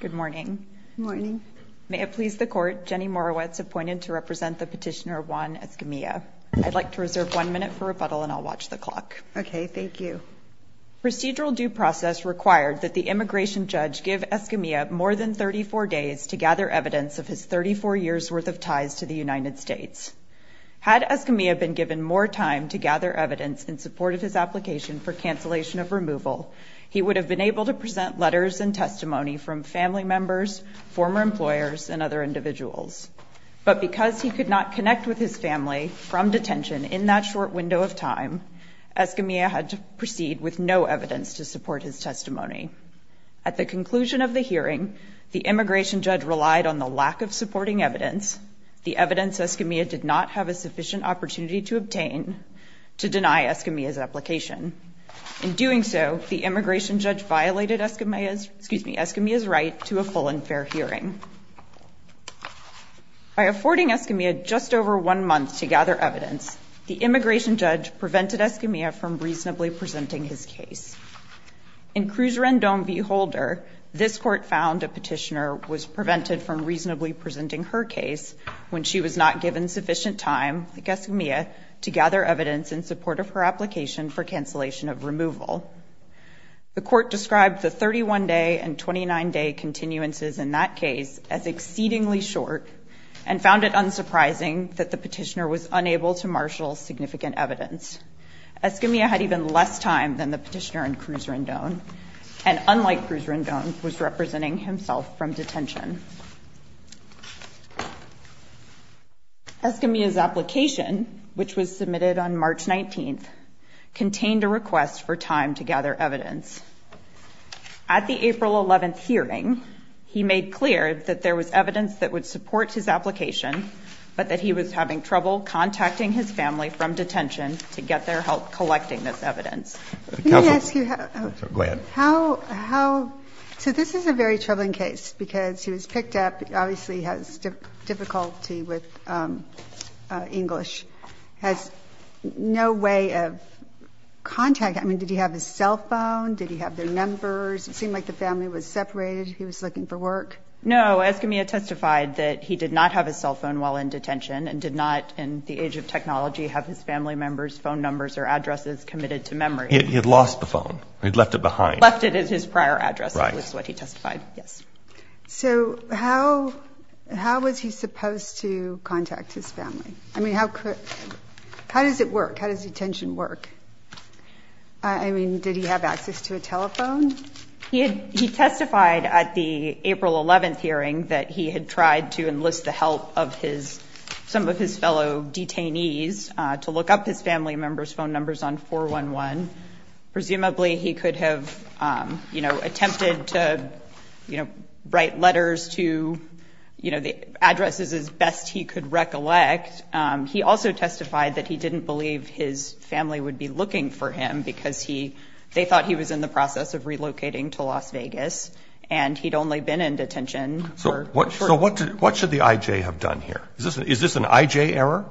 Good morning. May it please the Court, Jenny Morawetz appointed to represent the petitioner Juan Escamilla. I'd like to reserve one minute for rebuttal and I'll watch the clock. Okay, thank you. Procedural due process required that the immigration judge give Escamilla more than 34 days to gather evidence of his 34 years' worth of ties to the United States. Had Escamilla been given more time to gather evidence in support of his application for cancellation of removal, he would have been able to present letters and testimony from family members, former employers, and other individuals. But because he could not connect with his family from detention in that short window of time, Escamilla had to proceed with no evidence to support his testimony. At the conclusion of the hearing, the immigration judge relied on the lack of supporting evidence, the evidence Escamilla did not have a sufficient opportunity to obtain to deny Escamilla's application. In doing so, the immigration judge violated Escamilla's right to a full and fair hearing. By affording Escamilla just over one month to gather evidence, the immigration judge prevented Escamilla from reasonably presenting his case. In Cruz Rendon v. Holder, this Court found a petitioner was prevented from reasonably presenting her case when she was not given sufficient time, like Escamilla, to gather evidence in support of her application for cancellation of removal. The Court described the 31-day and 29-day continuances in that case as exceedingly short and found it unsurprising that the petitioner was unable to marshal significant evidence. Escamilla had even less time than the petitioner in Cruz Rendon, and unlike Cruz Rendon, was representing himself from detention. Escamilla's application, which was submitted on March 19th, contained a request for time to gather evidence. At the April 11th hearing, he made clear that there was evidence that would support his application, but that he was having trouble contacting his family from detention to get their help collecting this evidence. Can I ask you how, so this is a very troubling case because he was picked up, obviously has difficulty with English, has no way of contacting, I mean, did he have his cell phone, did he have their numbers, it seemed like the family was separated, he was looking for work. No, Escamilla testified that he did not have his cell phone while in detention and did not in the age of technology have his family members' phone numbers or addresses committed to memory. He had lost the phone, he'd left it behind. Left it at his prior address, that was what he testified, yes. So how was he supposed to contact his family? I mean, how does it work, how does detention work? I mean, did he have access to a telephone? He testified at the April 11th hearing that he had tried to enlist the help of some of his fellow detainees to look up his family members' phone numbers on 411. Presumably he could have attempted to write letters to addresses as best he could recollect. He also testified that he didn't believe his family would be looking for him because they thought he was in the process of relocating to Las Vegas and he'd only been in detention for a short time. So what should the I.J. have done here? Is this an I.J. error?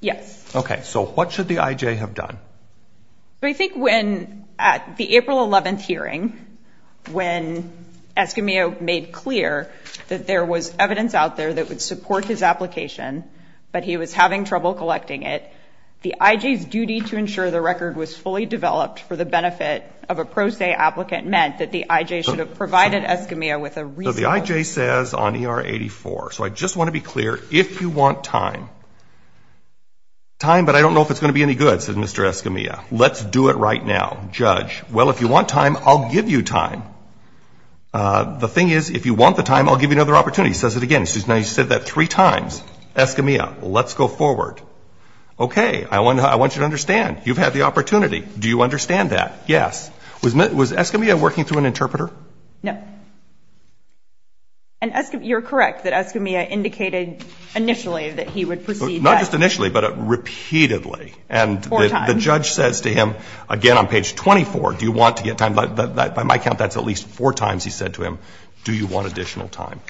Yes. Okay, so what should the I.J. have done? I think when at the April 11th hearing, when Escamilla made clear that there was evidence out there that would support his application, but he was having trouble collecting it, the I.J.'s duty to ensure the record was fully developed for the benefit of a pro se applicant meant that the I.J. should have provided Escamilla with a reasonable amount of time. So the I.J. says on ER 84, so I just want to be clear, if you want time, time, but I don't know if it's going to be any good, said Mr. Escamilla. Let's do it right now, judge. Well, if you want time, I'll give you time. The thing is, if you want the time, I'll give you another opportunity, says it again. Now you said that three times. Escamilla, let's go forward. Okay, I want you to understand. You've had the opportunity. Do you understand that? Yes. Was Escamilla working through an interpreter? No. And you're correct that Escamilla indicated initially that he would proceed. Not just initially, but repeatedly. Four times. And the judge says to him, again on page 24, do you want to get time? By my count, that's at least four times he said to him, do you want additional time?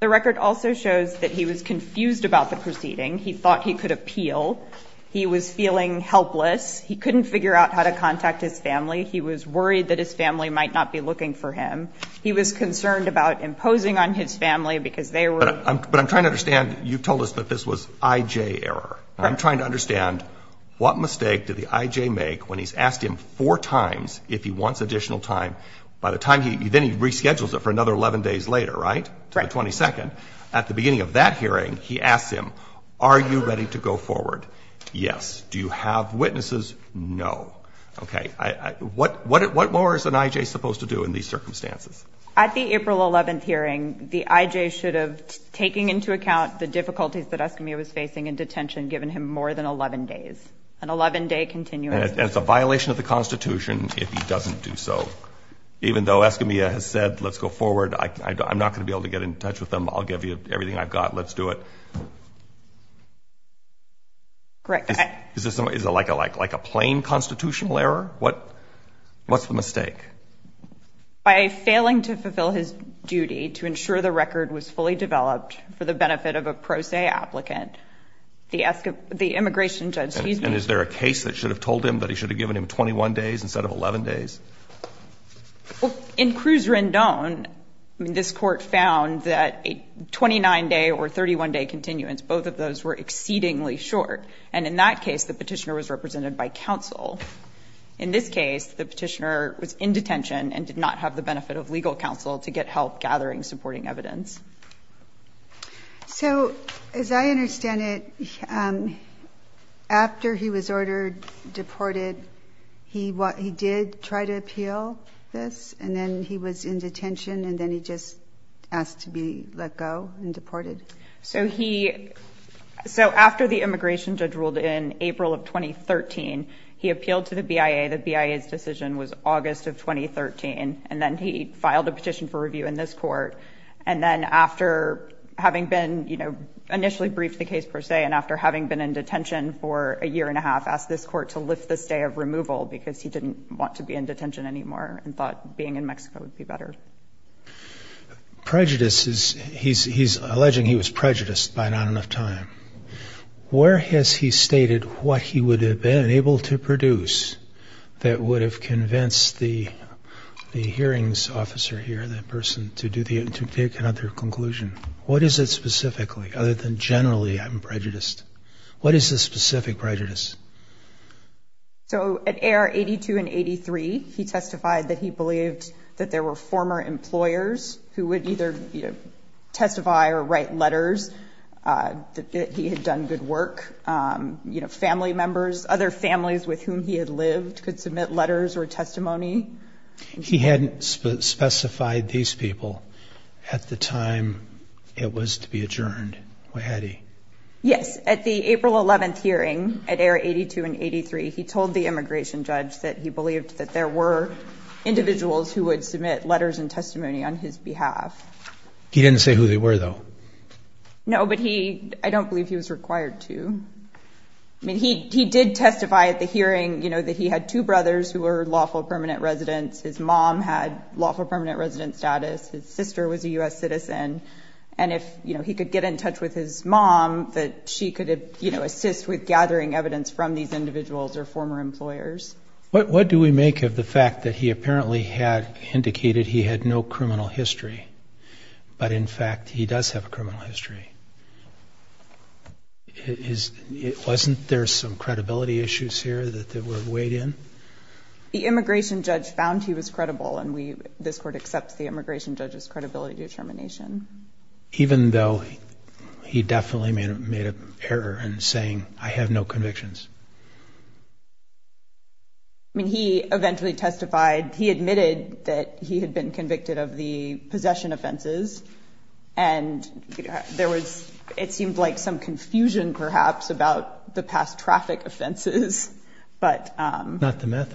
The record also shows that he was confused about the proceeding. He thought he could appeal. He was feeling helpless. He couldn't figure out how to contact his family. He was worried that his family might not be looking for him. He was concerned about imposing on his family because they were. But I'm trying to understand. You told us that this was IJ error. I'm trying to understand what mistake did the IJ make when he's asked him four times if he wants additional time. By the time, then he reschedules it for another 11 days later, right? Right. To the 22nd. At the beginning of that hearing, he asks him, are you ready to go forward? Yes. Do you have witnesses? No. Okay. What more is an IJ supposed to do in these circumstances? At the April 11th hearing, the IJ should have taken into account the difficulties that Escamilla was facing in detention, given him more than 11 days. An 11-day continuum. And it's a violation of the Constitution if he doesn't do so. Even though Escamilla has said, let's go forward, I'm not going to be able to get in touch with them. I'll give you everything I've got. Let's do it. Is it like a plain constitutional error? What's the mistake? By failing to fulfill his duty to ensure the record was fully developed for the benefit of a pro se applicant, the immigration judge sees me. And is there a case that should have told him that he should have given him 21 days instead of 11 days? Well, in Cruz Rendon, I mean, this Court found that a 29-day or 31-day continuance, both of those were exceedingly short. And in that case, the petitioner was represented by counsel. In this case, the petitioner was in detention and did not have the benefit of legal counsel to get help gathering supporting evidence. So as I understand it, after he was ordered deported, he did try to appeal this, and then he was in detention, and then he just asked to be let go and deported? So after the immigration judge ruled in April of 2013, he appealed to the BIA. The BIA's decision was August of 2013. And then he filed a petition for review in this Court. And then after having been, you know, initially briefed the case per se, and after having been in detention for a year and a half, asked this Court to lift the stay of removal because he didn't want to be in detention anymore and thought being in Mexico would be better. Prejudice is, he's alleging he was prejudiced by not enough time. Where has he stated what he would have been able to produce that would have convinced the hearings officer here, that person, to take another conclusion? What is it specifically, other than generally I'm prejudiced? What is the specific prejudice? So at A.R. 82 and 83, he testified that he believed that there were former employers who would either, you know, testify or write letters that he had done good work. You know, family members, other families with whom he had lived, could submit letters or testimony. He hadn't specified these people at the time it was to be adjourned. Why had he? Yes. At the April 11th hearing at A.R. 82 and 83, he told the immigration judge that he believed that there were individuals who would submit letters and testimony on his behalf. He didn't say who they were, though. No, but he, I don't believe he was required to. I mean, he did testify at the hearing, you know, that he had two brothers who were lawful permanent residents. His mom had lawful permanent resident status. His sister was a U.S. citizen. And if, you know, he could get in touch with his mom, that she could assist with gathering evidence from these individuals or former employers. What do we make of the fact that he apparently had indicated he had no criminal history, but, in fact, he does have a criminal history? Wasn't there some credibility issues here that were weighed in? The immigration judge found he was credible, and this Court accepts the immigration judge's credibility determination. Even though he definitely made an error in saying, I have no convictions? I mean, he eventually testified. He admitted that he had been convicted of the possession offenses, and there was, it seemed like, some confusion, perhaps, about the past traffic offenses. Not the meth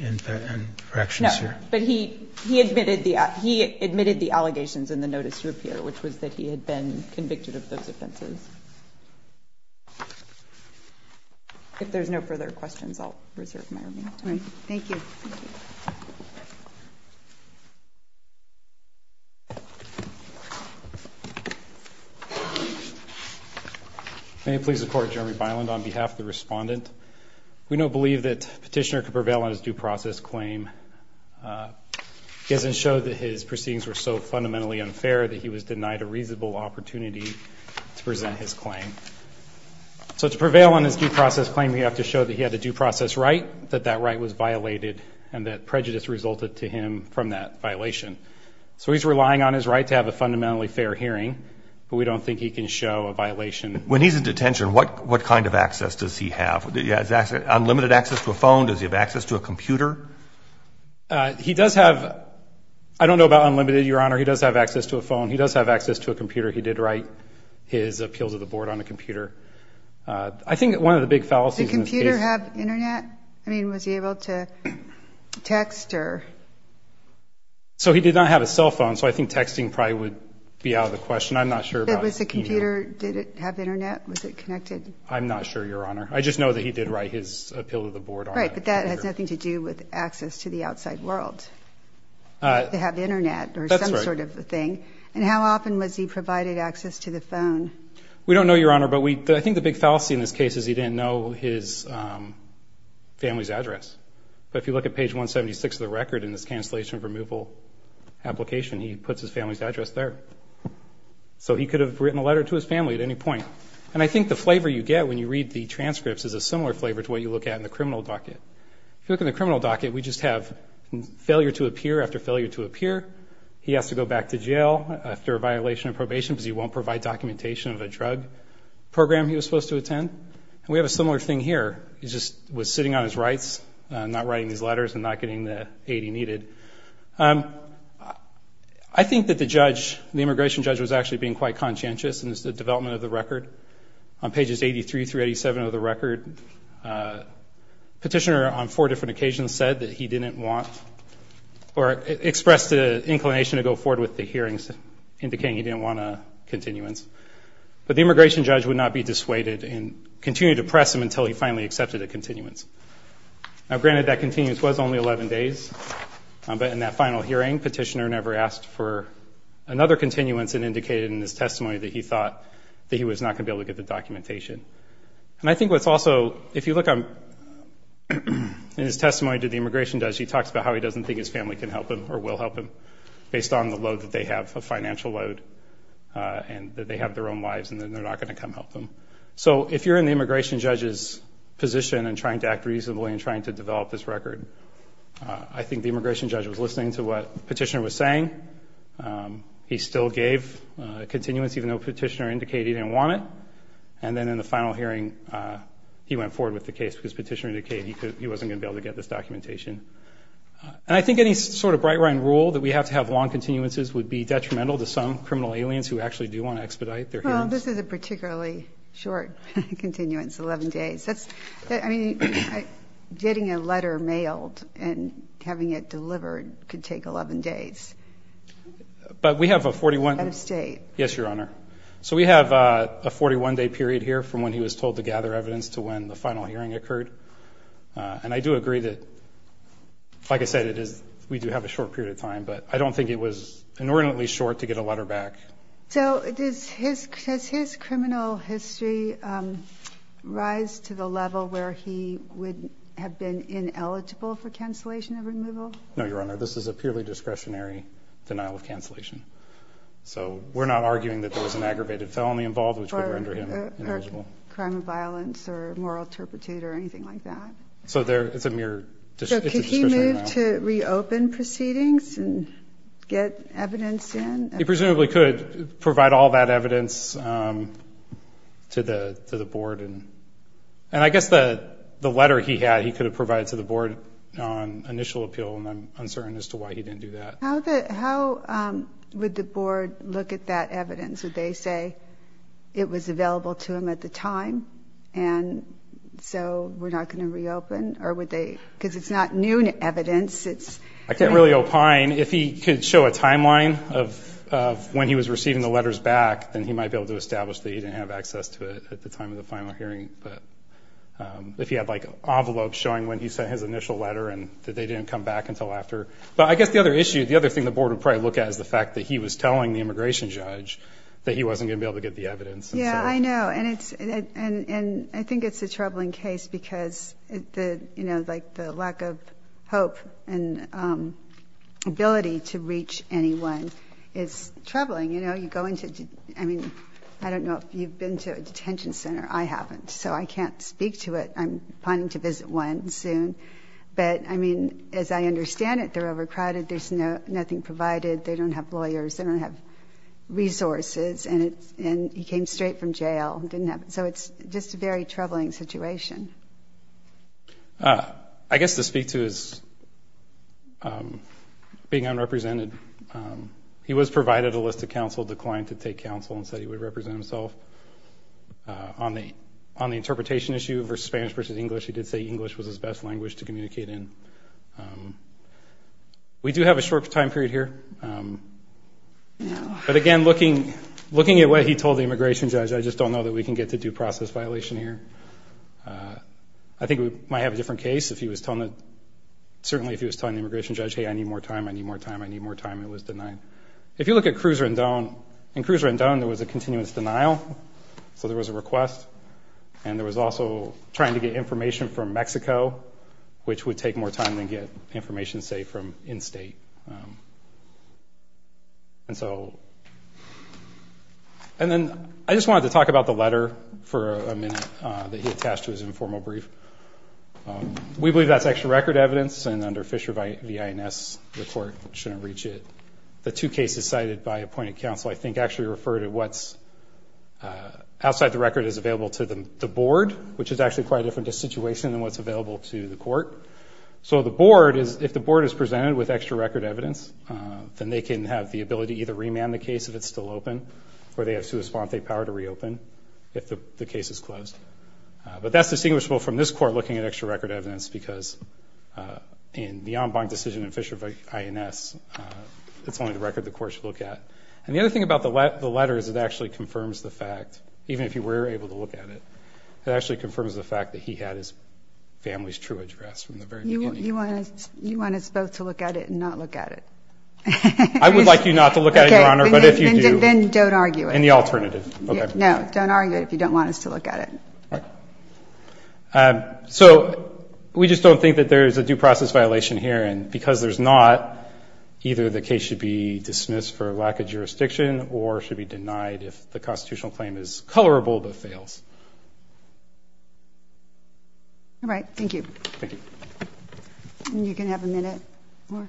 infractions? No, but he admitted the allegations in the notice to appear, which was that he had been convicted of those offenses. If there's no further questions, I'll reserve my remaining time. All right. Thank you. May it please the Court, Jeremy Byland, on behalf of the respondent. We don't believe that Petitioner could prevail on his due process claim. He hasn't showed that his proceedings were so fundamentally unfair that he was denied a reasonable opportunity to present his claim. So to prevail on his due process claim, we have to show that he had a due process right, that that right was violated, and that prejudice resulted to him from that violation. So he's relying on his right to have a fundamentally fair hearing, but we don't think he can show a violation. When he's in detention, what kind of access does he have? Unlimited access to a phone? Does he have access to a computer? He does have, I don't know about unlimited, Your Honor. He does have access to a phone. He does have access to a computer. He did write his appeals of the board on a computer. I think one of the big fallacies in this case. Did the computer have Internet? I mean, was he able to text or? So he did not have a cell phone, so I think texting probably would be out of the question. I'm not sure about e-mail. Was the computer, did it have Internet? Was it connected? I'm not sure, Your Honor. I just know that he did write his appeal to the board on a computer. Right, but that has nothing to do with access to the outside world, to have Internet or some sort of thing. That's right. And how often was he provided access to the phone? We don't know, Your Honor, but I think the big fallacy in this case is he didn't know his family's address. But if you look at page 176 of the record in this cancellation removal application, he puts his family's address there. So he could have written a letter to his family at any point. And I think the flavor you get when you read the transcripts is a similar flavor to what you look at in the criminal docket. If you look in the criminal docket, we just have failure to appear after failure to appear. He has to go back to jail after a violation of probation because he won't provide documentation of a drug program he was supposed to attend. And we have a similar thing here. He just was sitting on his rights, not writing his letters and not getting the aid he needed. I think that the judge, the immigration judge, was actually being quite conscientious in the development of the record. On pages 83 through 87 of the record, Petitioner, on four different occasions, said that he didn't want or expressed an inclination to go forward with the hearings, indicating he didn't want a continuance. But the immigration judge would not be dissuaded and continue to press him until he finally accepted a continuance. Now, granted that continuance was only 11 days, but in that final hearing, Petitioner never asked for another continuance and indicated in his testimony that he thought that he was not going to be able to get the documentation. And I think what's also, if you look in his testimony to the immigration judge, he talks about how he doesn't think his family can help him or will help him with the financial load and that they have their own lives and that they're not going to come help them. So if you're in the immigration judge's position in trying to act reasonably and trying to develop this record, I think the immigration judge was listening to what Petitioner was saying. He still gave a continuance, even though Petitioner indicated he didn't want it. And then in the final hearing, he went forward with the case because Petitioner indicated he wasn't going to be able to get this documentation. And I think any sort of Breitrein rule that we have to have long continuances would be detrimental to some criminal aliens who actually do want to expedite their hearings. Well, this is a particularly short continuance, 11 days. I mean, getting a letter mailed and having it delivered could take 11 days. But we have a 41- Out of state. Yes, Your Honor. So we have a 41-day period here from when he was told to gather evidence to when the final hearing occurred. And I do agree that, like I said, we do have a short period of time, but I don't think it was inordinately short to get a letter back. So does his criminal history rise to the level where he would have been ineligible for cancellation of removal? No, Your Honor. This is a purely discretionary denial of cancellation. So we're not arguing that there was an aggravated felony involved, which would render him ineligible. Crime of violence or moral turpitude or anything like that? So it's a mere discretionary denial. So could he move to reopen proceedings and get evidence in? He presumably could provide all that evidence to the board. And I guess the letter he had he could have provided to the board on initial appeal, and I'm uncertain as to why he didn't do that. How would the board look at that evidence? Would they say it was available to him at the time and so we're not going to reopen? Because it's not new evidence. I can't really opine. If he could show a timeline of when he was receiving the letters back, then he might be able to establish that he didn't have access to it at the time of the final hearing. But if he had, like, an envelope showing when he sent his initial letter and that they didn't come back until after. But I guess the other issue, the other thing the board would probably look at, is the fact that he was telling the immigration judge that he wasn't going to be able to get the evidence. Yeah, I know. And I think it's a troubling case because, you know, like the lack of hope and ability to reach anyone is troubling. You know, you go into, I mean, I don't know if you've been to a detention center. I haven't. So I can't speak to it. I'm planning to visit one soon. But, I mean, as I understand it, they're overcrowded. There's nothing provided. They don't have lawyers. They don't have resources. And he came straight from jail. So it's just a very troubling situation. I guess to speak to his being unrepresented, he was provided a list of counsel, declined to take counsel, and said he would represent himself. On the interpretation issue for Spanish versus English, he did say English was his best language to communicate in. We do have a short time period here. But, again, looking at what he told the immigration judge, I just don't know that we can get to due process violation here. I think we might have a different case if he was telling the immigration judge, hey, I need more time, I need more time, I need more time. It was denied. If you look at Cruz Rendon, in Cruz Rendon there was a continuous denial. So there was a request. And there was also trying to get information from Mexico, which would take more time than get information, say, from in-state. And then I just wanted to talk about the letter for a minute that he attached to his informal brief. We believe that's extra record evidence, and under Fisher v. INS, the court shouldn't reach it. The two cases cited by appointed counsel I think actually refer to what's outside the record that is available to the board, which is actually quite a different situation than what's available to the court. So the board is, if the board is presented with extra record evidence, then they can have the ability to either remand the case if it's still open, or they have sui sponte power to reopen if the case is closed. But that's distinguishable from this court looking at extra record evidence because in the en banc decision in Fisher v. INS, it's only the record the court should look at. And the other thing about the letter is it actually confirms the fact, even if you were able to look at it, it actually confirms the fact that he had his family's true address from the very beginning. You want us both to look at it and not look at it? I would like you not to look at it, Your Honor, but if you do. Then don't argue it. Any alternative. No, don't argue it if you don't want us to look at it. So we just don't think that there is a due process violation here, and because there's not, either the case should be dismissed for lack of jurisdiction or should be denied if the constitutional claim is colorable but fails. All right. Thank you. Thank you. And you can have a minute more.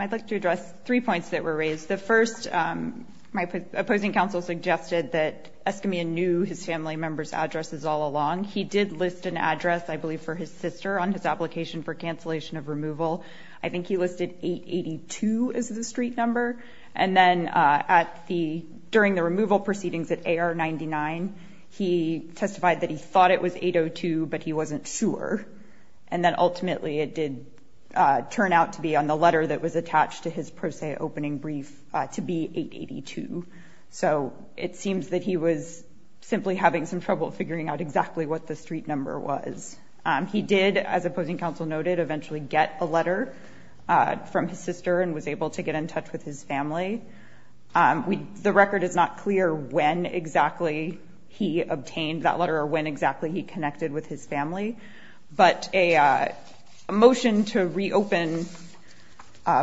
I'd like to address three points that were raised. The first, my opposing counsel suggested that Escamilla knew his family member's addresses all along. He did list an address, I believe, for his sister on his application for cancellation of removal. I think he listed 882 as the street number. And then during the removal proceedings at AR-99, he testified that he thought it was 802, but he wasn't sure. And then ultimately it did turn out to be on the letter that was attached to his pro se opening brief to be 882. So it seems that he was simply having some trouble figuring out exactly what the street number was. He did, as opposing counsel noted, eventually get a letter from his sister and was able to get in touch with his family. The record is not clear when exactly he obtained that letter or when exactly he connected with his family, but a motion to reopen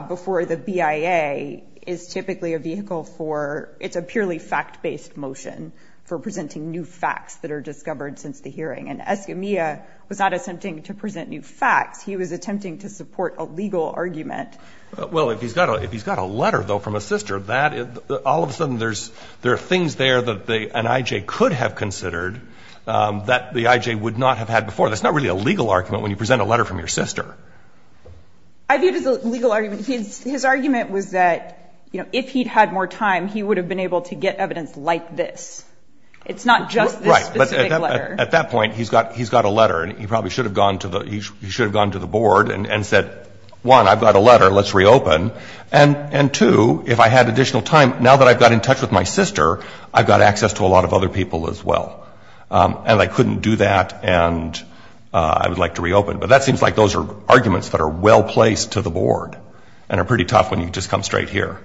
before the BIA is typically a vehicle for, it's a purely fact-based motion for presenting new facts that are discovered since the hearing. And Escamilla was not attempting to present new facts. He was attempting to support a legal argument. Well, if he's got a letter, though, from a sister, all of a sudden there are things there that an I.J. could have considered that the I.J. would not have had before. That's not really a legal argument when you present a letter from your sister. I view it as a legal argument. His argument was that, you know, if he'd had more time, he would have been able to get evidence like this. It's not just this specific letter. Right. But at that point, he's got a letter. And he probably should have gone to the board and said, one, I've got a letter, let's reopen. And two, if I had additional time, now that I've got in touch with my sister, I've got access to a lot of other people as well. And I couldn't do that. And I would like to reopen. But that seems like those are arguments that are well placed to the board and are pretty tough when you just come straight here.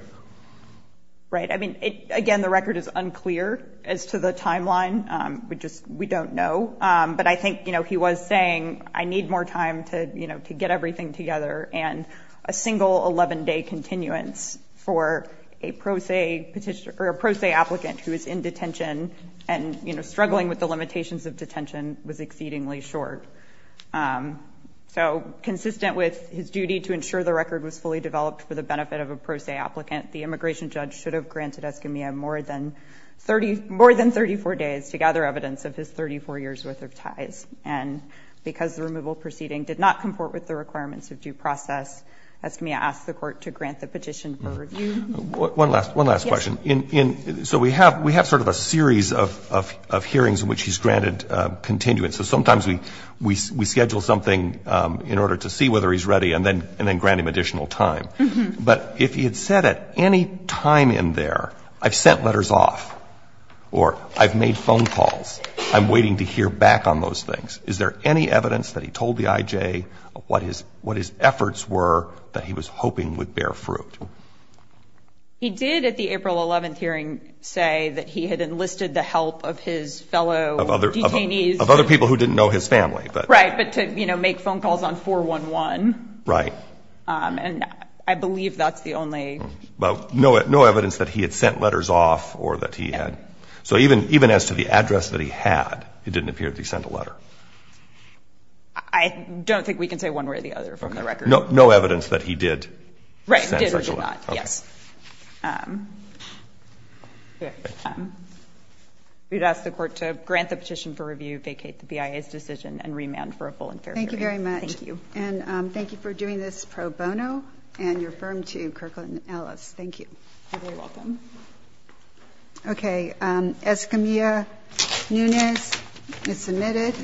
Right. I mean, again, the record is unclear as to the timeline. We just we don't know. But I think, you know, he was saying, I need more time to, you know, to get everything together. And a single 11 day continuance for a pro se petition or a pro se applicant who is in detention and, you know, struggling with the limitations of detention was exceedingly short. So consistent with his duty to ensure the record was fully developed for the benefit of a pro se applicant, the immigration judge should have granted Escamilla more than 30, more than 34 days to gather evidence of his 34 years worth of ties. And because the removal proceeding did not comport with the requirements of due process, Escamilla asked the court to grant the petition for review. One last one last question. So we have we have sort of a series of hearings in which he's granted continuance. So sometimes we we we schedule something in order to see whether he's ready and then and then grant him additional time. But if he had said at any time in there, I've sent letters off or I've made phone calls, I'm waiting to hear back on those things. Is there any evidence that he told the IJ what his what his efforts were that he was hoping would bear fruit? He did at the April 11th hearing say that he had enlisted the help of his fellow detainees of other people who didn't know his family. Right. But to make phone calls on 411. Right. And I believe that's the only. But no, no evidence that he had sent letters off or that he had. So even even as to the address that he had, it didn't appear that he sent a letter. I don't think we can say one way or the other from the record. No, no evidence that he did. Right. Yes. We'd ask the court to grant the petition for review, vacate the BIA's decision and remand for a full and fair hearing. Thank you very much. Thank you. And thank you for doing this pro bono and your firm to Kirkland Ellis. Thank you. You're very welcome. OK. Escamilla Nunez is submitted.